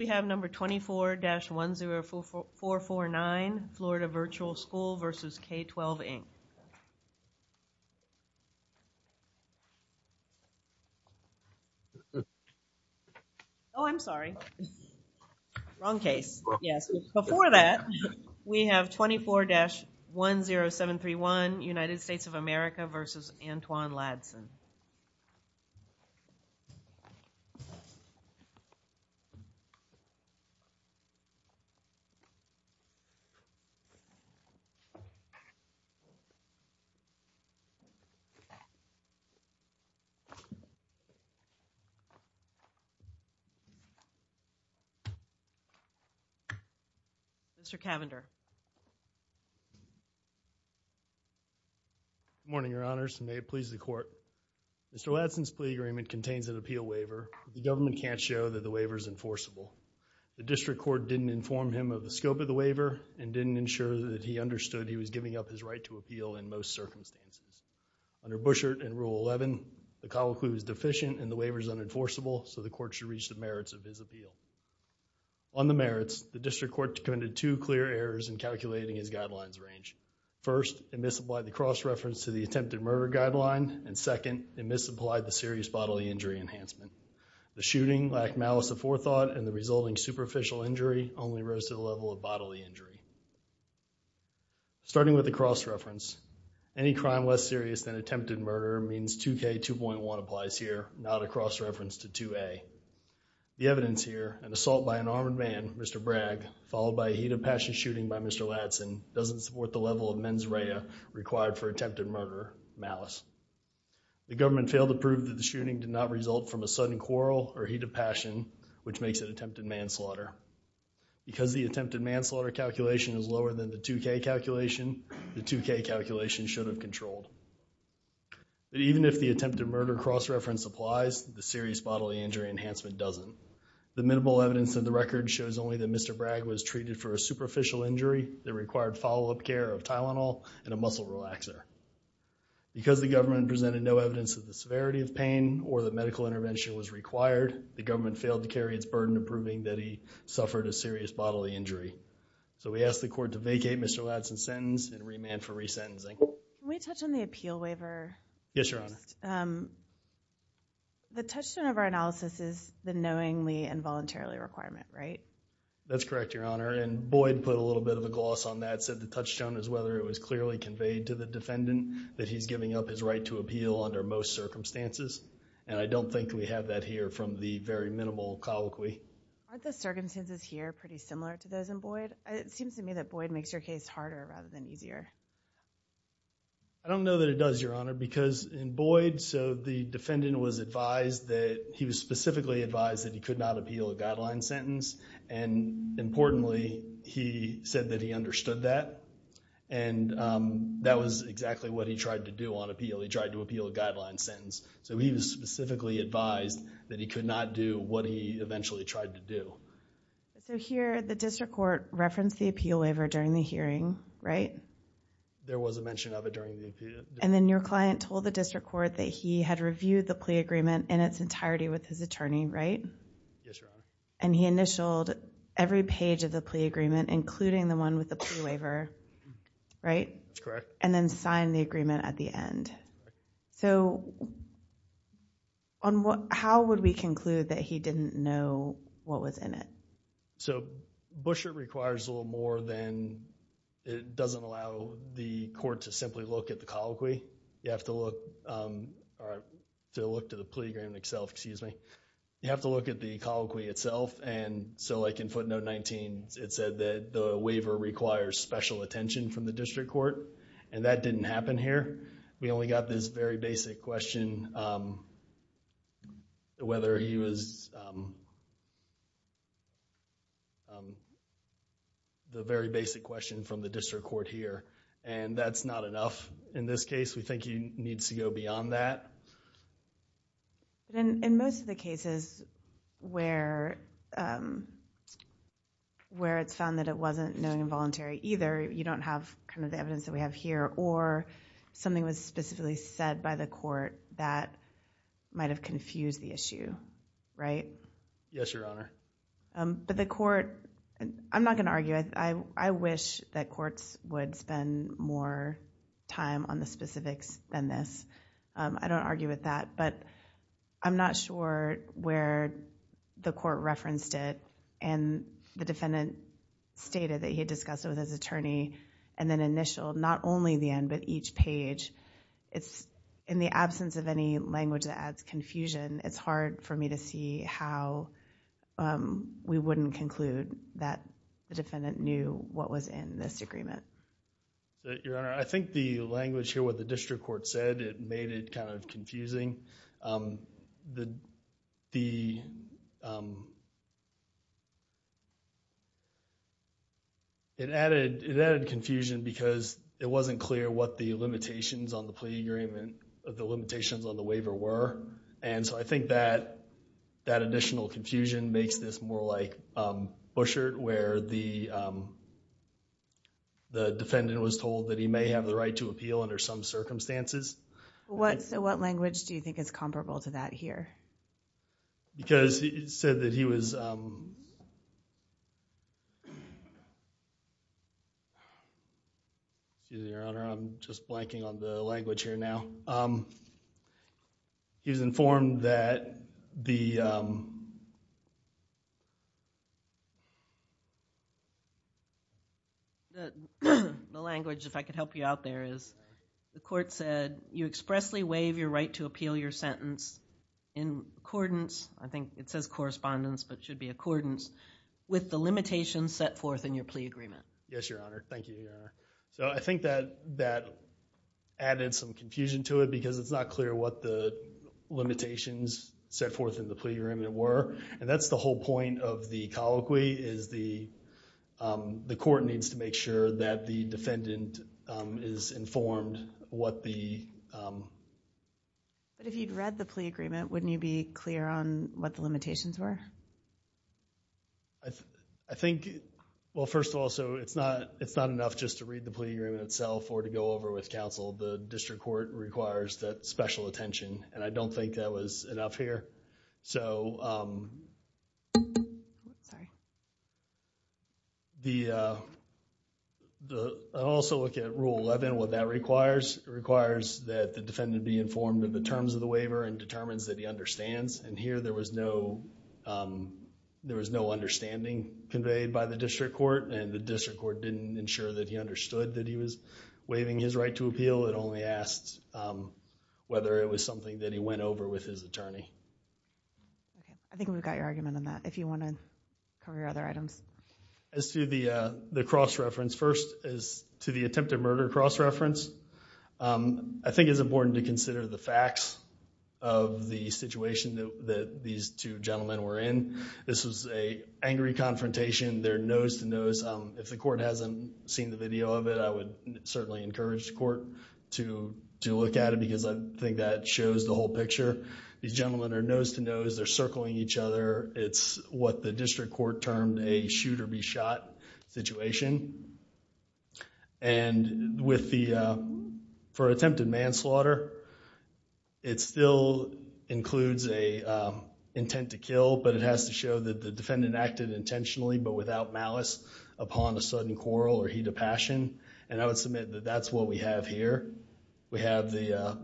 We have number 24-104449 Florida Virtual School v. K-12, Inc. Oh, I'm sorry, wrong case. Before that, we have 24-10731 United States of America v. Antione Ladson. Mr. Cavender Good morning, Your Honors, and may it please the Court. Mr. Ladson's plea agreement contains an appeal waiver, but the government can't show that the waiver is enforceable. The District Court didn't inform him of the scope of the waiver and didn't ensure that he understood he was giving up his right to appeal in most circumstances. Under Buschert and Rule 11, the colloclue is deficient and the waiver is unenforceable, so the Court should reach the merits of his appeal. On the merits, the District Court committed two clear errors in calculating his guidelines range. First, it misapplied the cross-reference to the attempted murder guideline, and second, it misapplied the serious bodily injury enhancement. The shooting lacked malice aforethought, and the resulting superficial injury only rose to the level of bodily injury. Starting with the cross-reference, any crime less serious than attempted murder means 2K 2.1 applies here, not a cross-reference to 2A. The evidence here, an assault by an armored man, Mr. Bragg, followed by a heat of passion shooting by Mr. Ladsen, doesn't support the level of mens rea required for attempted murder malice. The government failed to prove that the shooting did not result from a sudden quarrel or heat of passion, which makes it attempted manslaughter. Because the attempted manslaughter calculation is lower than the 2K calculation, the 2K calculation should have controlled. Even if the attempted murder cross-reference applies, the serious bodily injury enhancement doesn't. The minimal evidence in the record shows only that Mr. Bragg was treated for a superficial injury that required follow-up care of Tylenol and a muscle relaxer. Because the government presented no evidence of the severity of pain or that medical intervention was required, the government failed to carry its burden of proving that he suffered a serious bodily injury. So, we ask the court to vacate Mr. Ladsen's sentence and remand for resentencing. Can we touch on the appeal waiver? Yes, Your Honor. So, first, the touchstone of our analysis is the knowingly and voluntarily requirement, right? That's correct, Your Honor. And Boyd put a little bit of a gloss on that, said the touchstone is whether it was clearly conveyed to the defendant that he's giving up his right to appeal under most circumstances. And I don't think we have that here from the very minimal colloquy. Aren't the circumstances here pretty similar to those in Boyd? It seems to me that Boyd makes your case harder rather than easier. I don't know that it does, Your Honor, because in Boyd, so the defendant was advised that he was specifically advised that he could not appeal a guideline sentence. And importantly, he said that he understood that. And that was exactly what he tried to do on appeal. He tried to appeal a guideline sentence. So, he was specifically advised that he could not do what he eventually tried to do. So, here, the district court referenced the appeal waiver during the hearing, right? There was a mention of it during the appeal. And then your client told the district court that he had reviewed the plea agreement in its entirety with his attorney, right? Yes, Your Honor. And he initialed every page of the plea agreement, including the one with the plea waiver, right? That's correct. And then signed the agreement at the end. So, on what, how would we conclude that he didn't know what was in it? So, Busher requires a little more than, it doesn't allow the court to simply look at the colloquy. You have to look, or to look to the plea agreement itself, excuse me. You have to look at the colloquy itself. And so, like in footnote 19, it said that the waiver requires special attention from the district court. And that didn't happen here. We only got this very basic question, whether he was, the very basic question from the district court here. And that's not enough in this case. We think he needs to go beyond that. In most of the cases where it's found that it wasn't known involuntary either, you don't have the evidence that we have here, or something was specifically said by the court that might have confused the issue, right? Yes, Your Honor. But the court, I'm not going to argue. I wish that courts would spend more time on the specifics than this. I don't argue with that, but I'm not sure where the court referenced it and the defendant stated that he had discussed it with his attorney, and then initialed not only the end, but each page. It's, in the absence of any language that adds confusion, it's hard for me to see how we wouldn't conclude that the defendant knew what was in this agreement. Your Honor, I think the language here, what the district court said, it made it kind of confusing. It added confusion because it wasn't clear what the limitations on the plea agreement, the limitations on the waiver were, and so I think that additional confusion makes this more like Buschert, where the defendant was told that he may have the right to appeal under some circumstances. So what language do you think is comparable to that here? Because it said that he was, excuse me, Your Honor, I'm just blanking on the language here now. He was informed that the, the language, if I could help you out there, is the court said you expressly waive your right to appeal your sentence in accordance, I think it says correspondence, but it should be accordance, with the limitations set forth in your plea agreement. Yes, Your Honor. Thank you, Your Honor. So I think that, that added some confusion to it because it's not clear what the limitations set forth in the plea agreement were, and that's the whole point of the colloquy, is the, the court needs to make sure that the defendant is informed what the... But if you'd read the plea agreement, wouldn't you be clear on what the limitations were? I think, well, first of all, so it's not, it's not enough just to read the plea agreement itself or to go over with counsel. The district court requires that special attention, and I don't think that was enough here. So the, I also look at Rule 11, what that requires, it requires that the defendant be informed of the terms of the waiver and determines that he understands, and here there was no there was no understanding conveyed by the district court, and the district court didn't ensure that he understood that he was waiving his right to appeal. It only asked whether it was something that he went over with his attorney. I think we've got your argument on that, if you want to cover your other items. As to the cross-reference, first, as to the attempted murder cross-reference, I think it's important to consider the facts of the situation that these two gentlemen were in. This was an angry confrontation, they're nose-to-nose. If the court hasn't seen the video of it, I would certainly encourage the court to look at it because I think that shows the whole picture. These gentlemen are nose-to-nose, they're circling each other. It's what the district court termed a shoot-or-be-shot situation. For attempted manslaughter, it still includes an intent to kill, but it has to show that the defendant acted intentionally but without malice upon a sudden quarrel or heat of passion, and I would submit that that's what we have here. We have the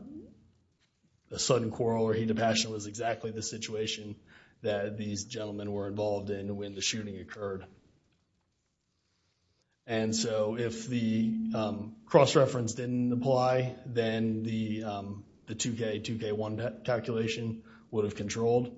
sudden quarrel or heat of passion was exactly the situation that these gentlemen were involved in when the shooting occurred. If the cross-reference didn't apply, then the 2K, 2K1 calculation would have controlled.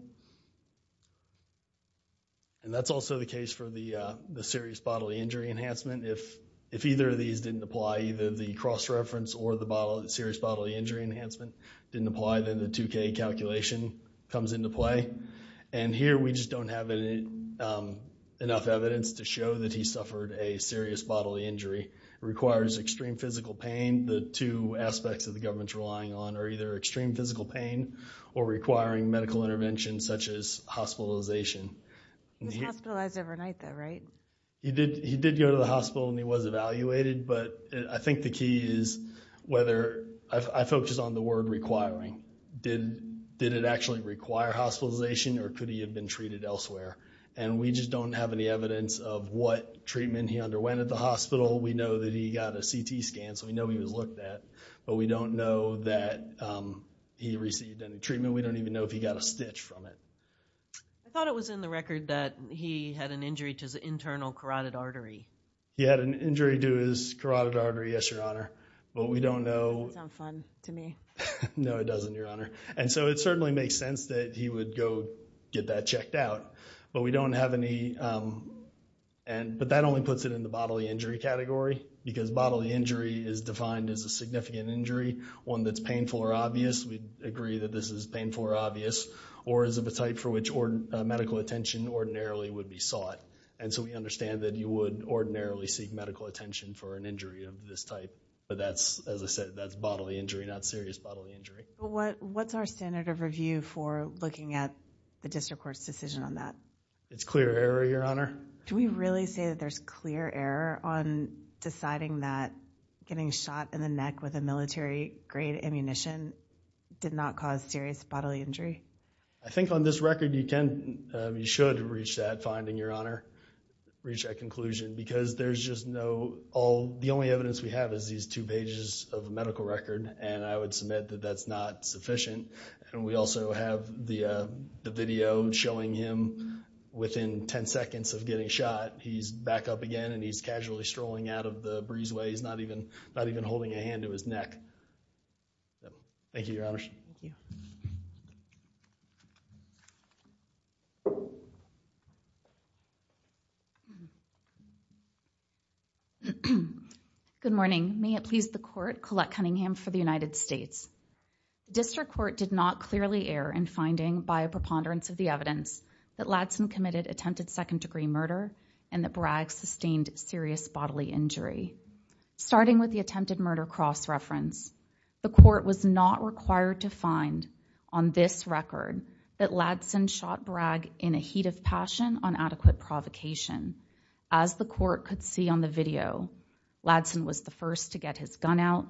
That's also the case for the serious bodily injury enhancement. If either of these didn't apply, either the cross-reference or the serious bodily injury enhancement didn't apply, then the 2K calculation comes into play. And here we just don't have enough evidence to show that he suffered a serious bodily injury. It requires extreme physical pain. The two aspects that the government's relying on are either extreme physical pain or requiring medical intervention such as hospitalization. He was hospitalized overnight though, right? He did go to the hospital and he was evaluated, but I think the key is whether I focus on the word requiring. Did it actually require hospitalization or could he have been treated elsewhere? And we just don't have any evidence of what treatment he underwent at the hospital. We know that he got a CT scan, so we know he was looked at, but we don't know that he received any treatment. We don't even know if he got a stitch from it. I thought it was in the record that he had an injury to his internal carotid artery. He had an injury to his carotid artery, yes, Your Honor, but we don't know. It doesn't sound fun to me. No, it doesn't, Your Honor. And so it certainly makes sense that he would go get that checked out, but we don't have any, but that only puts it in the bodily injury category because bodily injury is defined as a significant injury, one that's painful or obvious. We agree that this is painful or obvious or is of a type for which medical attention ordinarily would be sought. And so we understand that you would ordinarily seek medical attention for an injury of this type. But that's, as I said, that's bodily injury, not serious bodily injury. What's our standard of review for looking at the district court's decision on that? It's clear error, Your Honor. Do we really say that there's clear error on deciding that getting shot in the neck with a military-grade ammunition did not cause serious bodily injury? I think on this record you can, you should reach that finding, Your Honor, reach that conclusion because there's just no, all, the only evidence we have is these two pages of a medical record, and I would submit that that's not sufficient. And we also have the video showing him within ten seconds of getting shot, he's back up again and he's casually strolling out of the breezeway, he's not even, not even holding a hand to his neck. Thank you, Your Honor. Thank you. Thank you. Good morning. May it please the Court, Colette Cunningham for the United States. District Court did not clearly err in finding, by a preponderance of the evidence, that Ladson committed attempted second-degree murder and that Bragg sustained serious bodily injury. Starting with the attempted murder cross-reference, the Court was not required to find, on this record, that Ladson shot Bragg in a heat of passion on adequate provocation. As the Court could see on the video, Ladson was the first to get his gun out,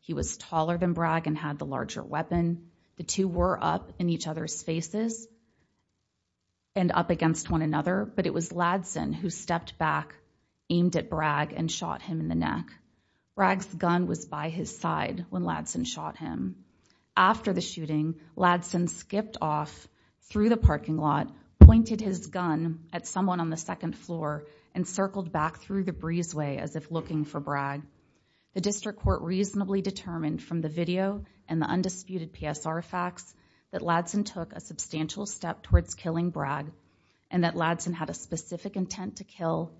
he was taller than Bragg and had the larger weapon, the two were up in each other's faces and up against one another, but it was Ladson who stepped back, aimed at Bragg and shot him in the neck. Bragg's gun was by his side when Ladson shot him. After the shooting, Ladson skipped off through the parking lot, pointed his gun at someone on the second floor and circled back through the breezeway as if looking for Bragg. The District Court reasonably determined from the video and the undisputed PSR facts that Ladson took a substantial step towards killing Bragg and that Ladson had a specific intent to kill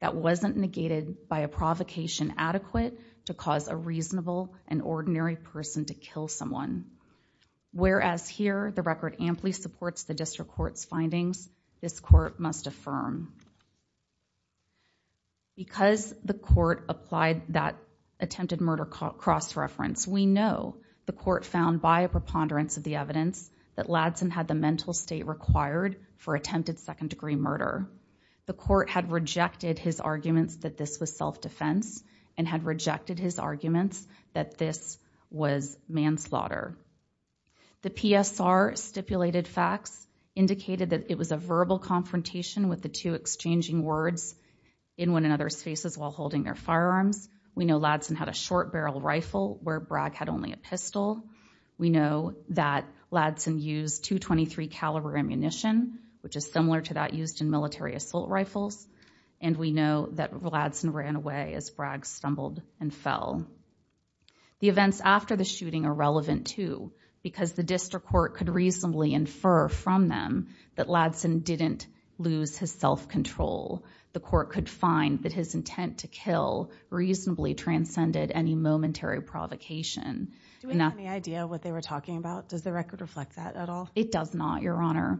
that wasn't negated by a provocation adequate to cause a reasonable and ordinary person to kill someone. Whereas here, the record amply supports the District Court's findings, this Court must affirm. Because the Court applied that attempted murder cross-reference, we know the Court found by preponderance of the evidence that Ladson had the mental state required for attempted second-degree murder. The Court had rejected his arguments that this was self-defense and had rejected his arguments that this was manslaughter. The PSR stipulated facts indicated that it was a verbal confrontation with the two exchanging words in one another's faces while holding their firearms. We know Ladson had a short-barreled rifle where Bragg had only a pistol. We know that Ladson used .223 caliber ammunition, which is similar to that used in military assault rifles. And we know that Ladson ran away as Bragg stumbled and fell. The events after the shooting are relevant, too, because the District Court could reasonably infer from them that Ladson didn't lose his self-control. The Court could find that his intent to kill reasonably transcended any momentary provocation Do we have any idea what they were talking about? Does the record reflect that at all? It does not, Your Honor.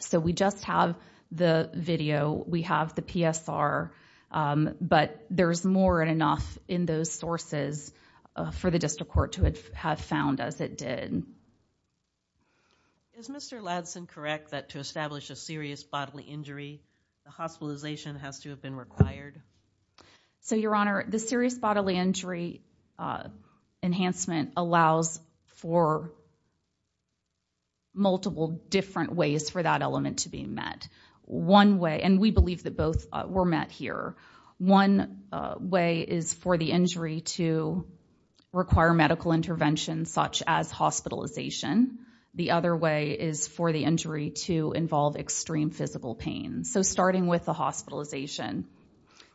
So we just have the video, we have the PSR, but there's more than enough in those sources for the District Court to have found as it did. Is Mr. Ladson correct that to establish a serious bodily injury, hospitalization has to have been required? So, Your Honor, the serious bodily injury enhancement allows for multiple different ways for that element to be met. One way, and we believe that both were met here. One way is for the injury to require medical intervention such as hospitalization. The other way is for the injury to involve extreme physical pain. So starting with the hospitalization.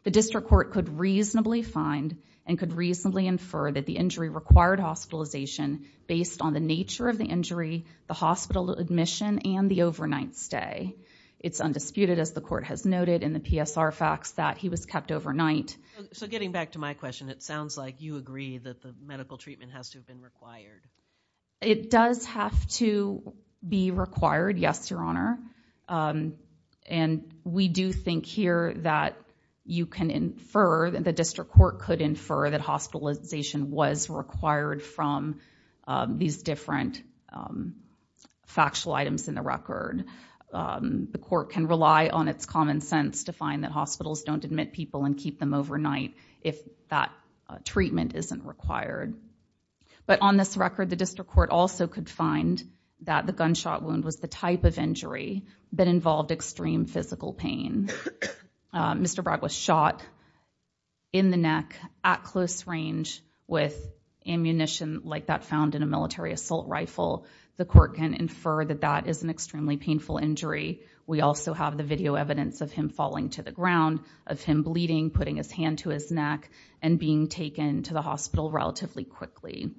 The District Court could reasonably find and could reasonably infer that the injury required hospitalization based on the nature of the injury, the hospital admission, and the overnight stay. It's undisputed as the Court has noted in the PSR facts that he was kept overnight. So getting back to my question, it sounds like you agree that the medical treatment has to have been required. It does have to be required, yes, Your Honor. And we do think here that you can infer, the District Court could infer that hospitalization was required from these different factual items in the record. The Court can rely on its common sense to find that hospitals don't admit people and keep them overnight if that treatment isn't required. But on this record, the District Court also could find that the gunshot wound was the type of injury that involved extreme physical pain. Mr. Bragg was shot in the neck at close range with ammunition like that found in a military assault rifle. The Court can infer that that is an extremely painful injury. We also have the video evidence of him falling to the ground, of him bleeding, putting his hand to his neck, and being taken to the hospital relatively quickly.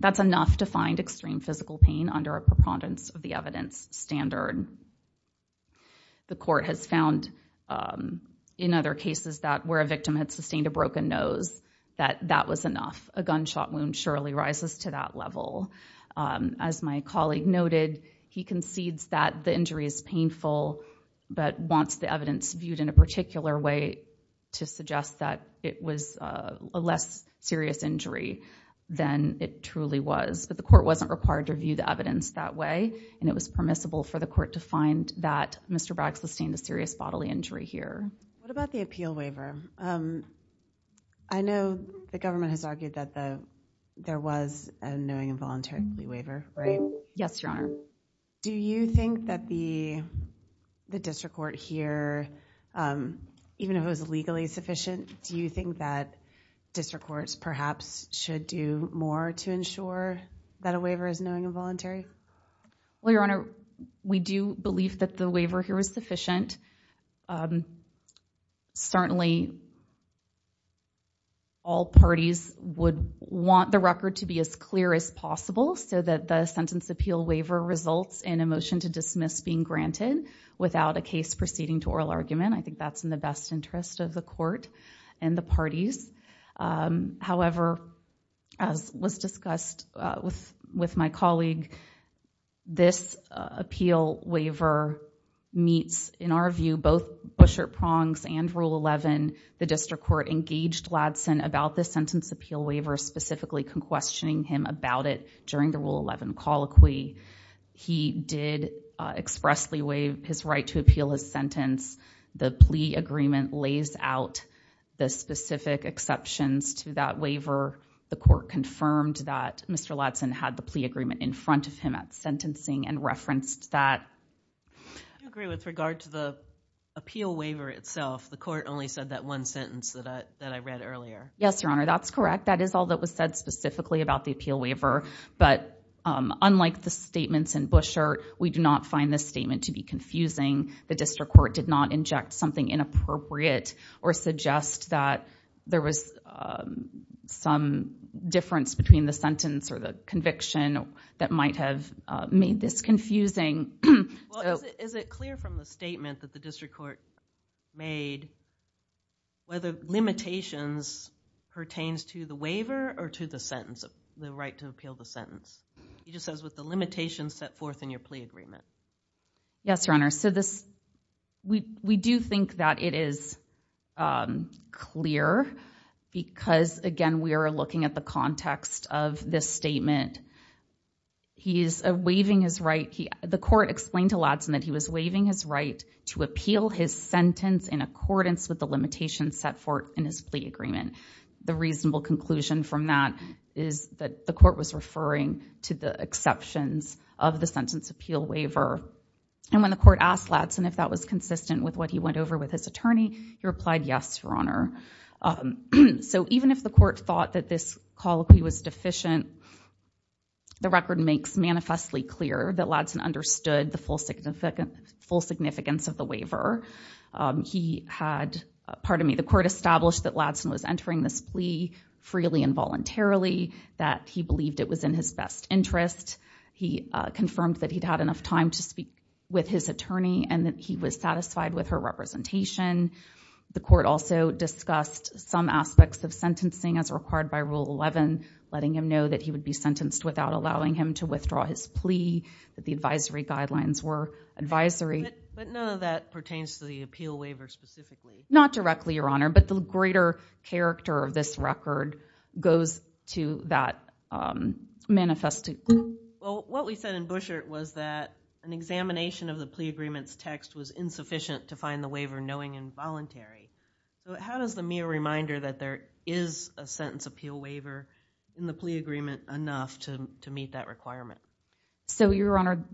That's enough to find extreme physical pain under a preponderance of the evidence standard. The Court has found in other cases where a victim had sustained a broken nose that that was enough. A gunshot wound surely rises to that level. As my colleague noted, he concedes that the injury is painful but wants the evidence viewed in a particular way to suggest that it was a less serious injury than it truly was. But the Court wasn't required to view the evidence that way, and it was permissible for the Court to find that Mr. Bragg sustained a serious bodily injury here. What about the appeal waiver? I know the government has argued that there was a knowing and voluntary plea waiver, right? Yes, Your Honor. Do you think that the district court here, even if it was legally sufficient, do you think that district courts perhaps should do more to ensure that a waiver is knowing and voluntary? Well, Your Honor, we do believe that the waiver here is sufficient. Certainly all parties would want the record to be as clear as possible so that the sentence appeal waiver results in a motion to dismiss being granted without a case proceeding to oral argument. I think that's in the best interest of the Court and the parties. However, as was discussed with my colleague, this appeal waiver meets, in our view, both Boucher prongs and Rule 11. The district court engaged Ladson about the sentence appeal waiver, specifically conquestioning him about it during the Rule 11 colloquy. He did expressly waive his right to appeal his sentence. The plea agreement lays out the specific exceptions to that waiver. The Court confirmed that Mr. Ladson had the plea agreement in front of him at sentencing and referenced that. Do you agree with regard to the appeal waiver itself? The Court only said that one sentence that I read earlier. Yes, Your Honor. That's correct. That is all that was said specifically about the appeal waiver. Unlike the statements in Boucher, we do not find this statement to be confusing. The district court did not inject something inappropriate or suggest that there was some difference between the sentence or the conviction that might have made this confusing. Is it clear from the statement that the district court made whether limitations pertains to the waiver or to the sentence, the right to appeal the sentence? He just says, with the limitations set forth in your plea agreement. Yes, Your Honor. We do think that it is clear because, again, we are looking at the context of this statement. He is waiving his right. The Court explained to Ladson that he was waiving his right to appeal his sentence in accordance with the limitations set forth in his plea agreement. The reasonable conclusion from that is that the Court was referring to the exceptions of the sentence appeal waiver. When the Court asked Ladson if that was consistent with what he went over with his attorney, he replied, yes, Your Honor. Even if the Court thought that this colloquy was deficient, the record makes manifestly clear that Ladson understood the full significance of the waiver. The Court established that Ladson was entering this plea freely and voluntarily, that he believed it was in his best interest. He confirmed that he'd had enough time to speak with his attorney and that he was satisfied with her representation. The Court also discussed some aspects of sentencing as required by Rule 11, letting him know that he would be sentenced without allowing him to withdraw his plea, that the advisory guidelines were advisory. But none of that pertains to the appeal waiver specifically? Not directly, Your Honor, but the greater character of this record goes to that manifestly. What we said in Buschert was that an examination of the plea agreement's text was insufficient to find the waiver knowing and voluntary. How does the MIA reminder that there is a sentence appeal waiver in the plea agreement enough to meet that requirement? Your Honor,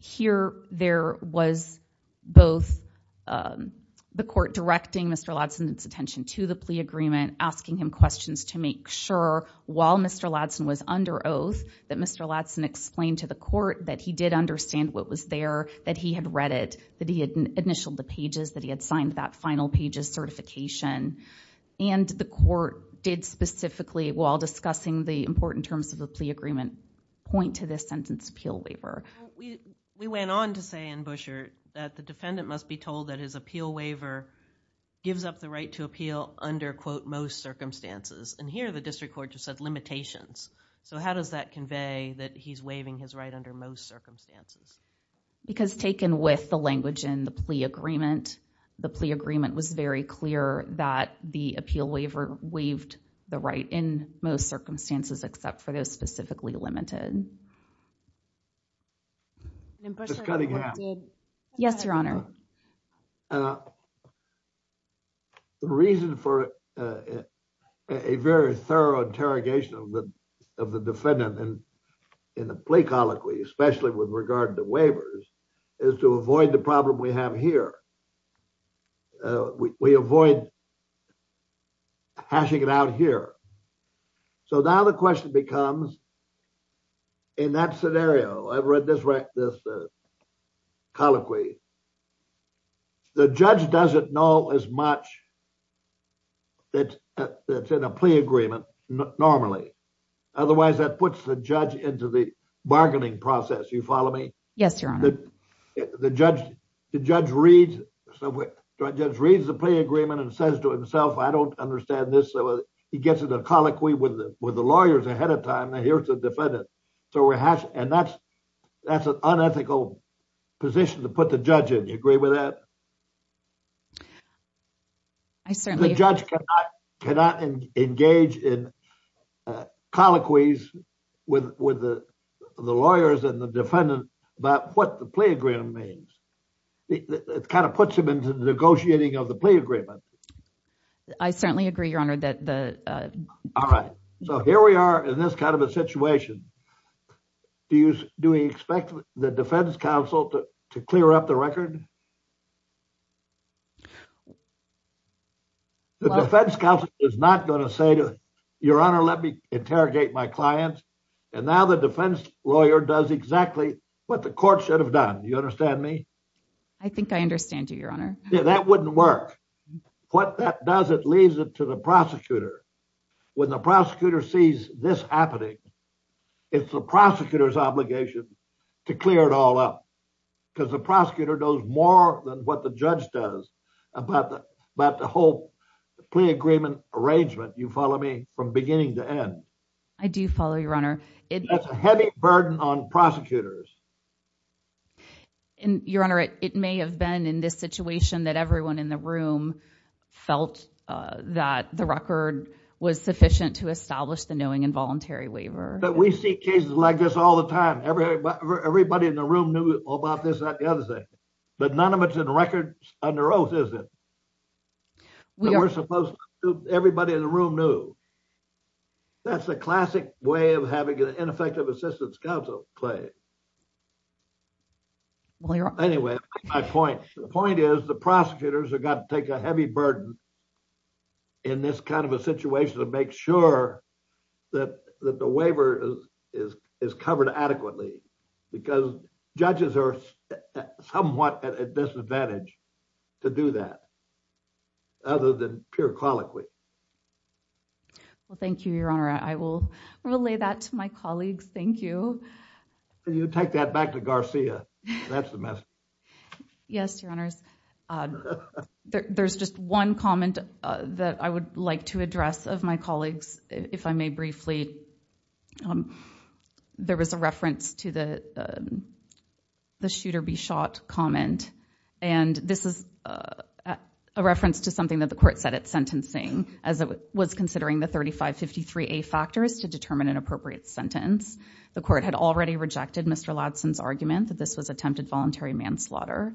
here there was both the Court directing Mr. Ladson's attention to the plea agreement, asking him questions to make sure while Mr. Ladson was under oath that Mr. Ladson explained to the Court that he did understand what was there, that he had read it, that he had initialed the pages, that he had signed that final pages certification. The Court did specifically, while discussing the important terms of the plea agreement, point to this sentence appeal waiver. We went on to say in Buschert that the defendant must be told that his appeal waiver gives up the right to appeal under, quote, most circumstances. Here the district court just said limitations. How does that convey that he's waiving his right under most circumstances? Because taken with the language in the plea agreement, the plea agreement was very clear that the appeal waiver waived the right in most circumstances except for those specifically limited. And Buschert did. Just cutting out. Yes, Your Honor. And the reason for a very thorough interrogation of the defendant in the plea colloquy, especially with regard to waivers, is to avoid the problem we have here. We avoid hashing it out here. So now the question becomes, in that scenario, I've read this colloquy, the judge doesn't know as much that's in a plea agreement normally. Otherwise, that puts the judge into the bargaining process. You follow me? Yes, Your Honor. The judge reads the plea agreement and says to himself, I don't understand this. He gets into a colloquy with the lawyers ahead of time, now here's the defendant. So we're hashing. And that's an unethical position to put the judge in. Do you agree with that? I certainly. The judge cannot engage in colloquies with the lawyers and the defendant about what the plea agreement means. It kind of puts them into the negotiating of the plea agreement. I certainly agree, Your Honor. All right. So here we are in this kind of a situation. Do we expect the defense counsel to clear up the record? The defense counsel is not going to say to Your Honor, let me interrogate my client. And now the defense lawyer does exactly what the court should have done. You understand me? I think I understand you, Your Honor. That wouldn't work. What that does, it leaves it to the prosecutor. When the prosecutor sees this happening, it's the prosecutor's obligation to clear it all up. Because the prosecutor knows more than what the judge does about the whole plea agreement arrangement. You follow me? From beginning to end. I do follow, Your Honor. That's a heavy burden on prosecutors. And Your Honor, it may have been in this situation that everyone in the room felt that the record was sufficient to establish the knowing involuntary waiver. But we see cases like this all the time. Everybody in the room knew about this, not the other thing. But none of it's in the records under oath, is it? We are supposed to, everybody in the room knew. That's a classic way of having an ineffective assistance counsel play. Anyway, that's my point. The point is, the prosecutors have got to take a heavy burden in this kind of a situation to make sure that the waiver is covered adequately. Because judges are somewhat at a disadvantage to do that, other than pure colloquy. Well, thank you, Your Honor. I will relay that to my colleagues. Thank you. And you take that back to Garcia. That's the message. Yes, Your Honors. There's just one comment that I would like to address of my colleagues, if I may briefly. There was a reference to the shooter be shot comment. And this is a reference to something that the court said at sentencing, as it was considering the 3553A factors to determine an appropriate sentence. The court had already rejected Mr. Ladson's argument that this was attempted voluntary manslaughter.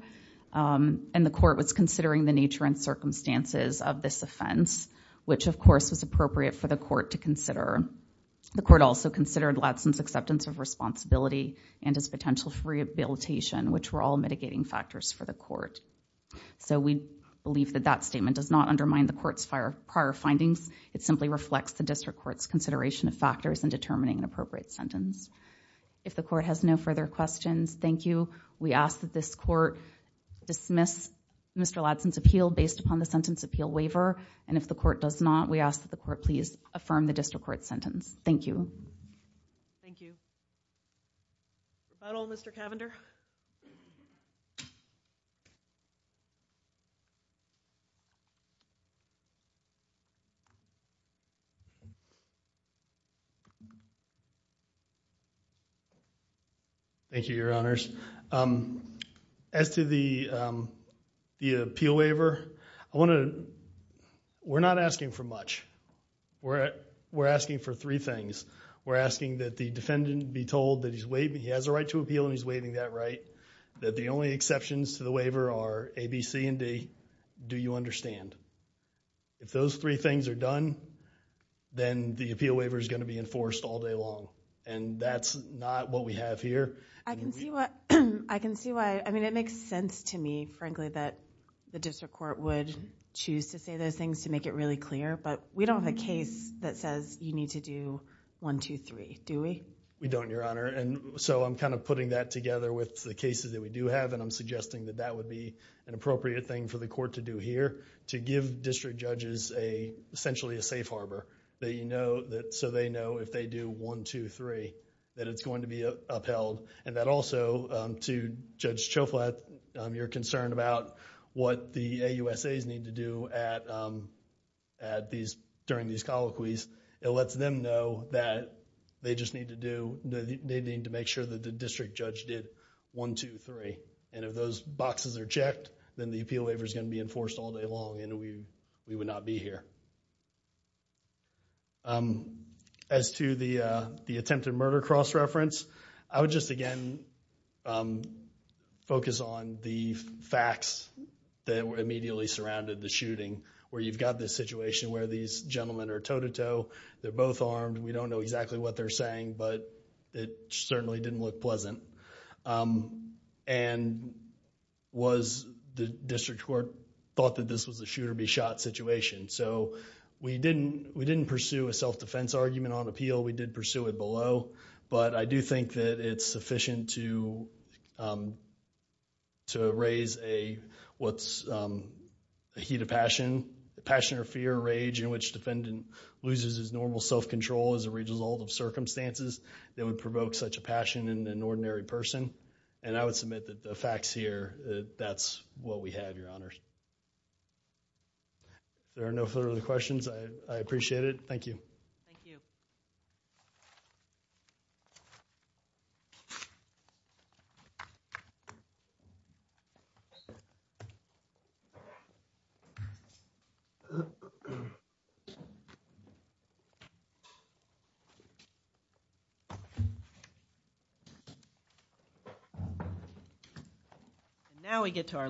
And the court was considering the nature and circumstances of this offense, which of course was appropriate for the court to consider. The court also considered Ladson's acceptance of responsibility and his potential for rehabilitation, which were all mitigating factors for the court. So we believe that that statement does not undermine the court's prior findings. It simply reflects the district court's consideration of factors in determining an appropriate sentence. If the court has no further questions, thank you. We ask that this court dismiss Mr. Ladson's appeal based upon the sentence appeal waiver. And if the court does not, we ask that the court please affirm the district court's sentence. Thank you. Thank you. If I don't, Mr. Cavender? Thank you, Your Honors. As to the appeal waiver, we're not asking for much. We're asking for three things. We're asking that the defendant be told that he has a right to appeal and he's waiving that right, that the only exceptions to the waiver are A, B, C, and D. Do you understand? If those three things are done, then the appeal waiver is going to be enforced all day long. And that's not what we have here. I can see why. I mean, it makes sense to me, frankly, that the district court would choose to say those things to make it really clear. But we don't have a case that says you need to do one, two, three. Do we? We don't, Your Honor. And so I'm kind of putting that together with the cases that we do have. And I'm suggesting that that would be an appropriate thing for the court to do here, to give district judges essentially a safe harbor, so they know if they do one, two, three, that it's going to be upheld. And that also, to Judge Choflat, you're concerned about what the AUSAs need to do during these colloquies. It lets them know that they just need to make sure that the district judge did one, two, three. And if those boxes are checked, then the appeal waiver is going to be enforced all day long and we would not be here. As to the attempted murder cross-reference, I would just again focus on the facts that immediately surrounded the shooting, where you've got this situation where these gentlemen are toe-to-toe. They're both armed. We don't know exactly what they're saying, but it certainly didn't look pleasant. And the district court thought that this was a shoot-or-be-shot situation. So we didn't pursue a self-defense argument on appeal. We did pursue it below. But I do think that it's sufficient to raise what's a heat of passion, passion or fear, rage in which defendant loses his normal self-control as a result of circumstances that would provoke such a passion in an ordinary person. And I would submit that the facts here, that's what we have, Your Honors. There are no further questions. I appreciate it. Thank you. Thank you. Thank you. Now we get to our last question.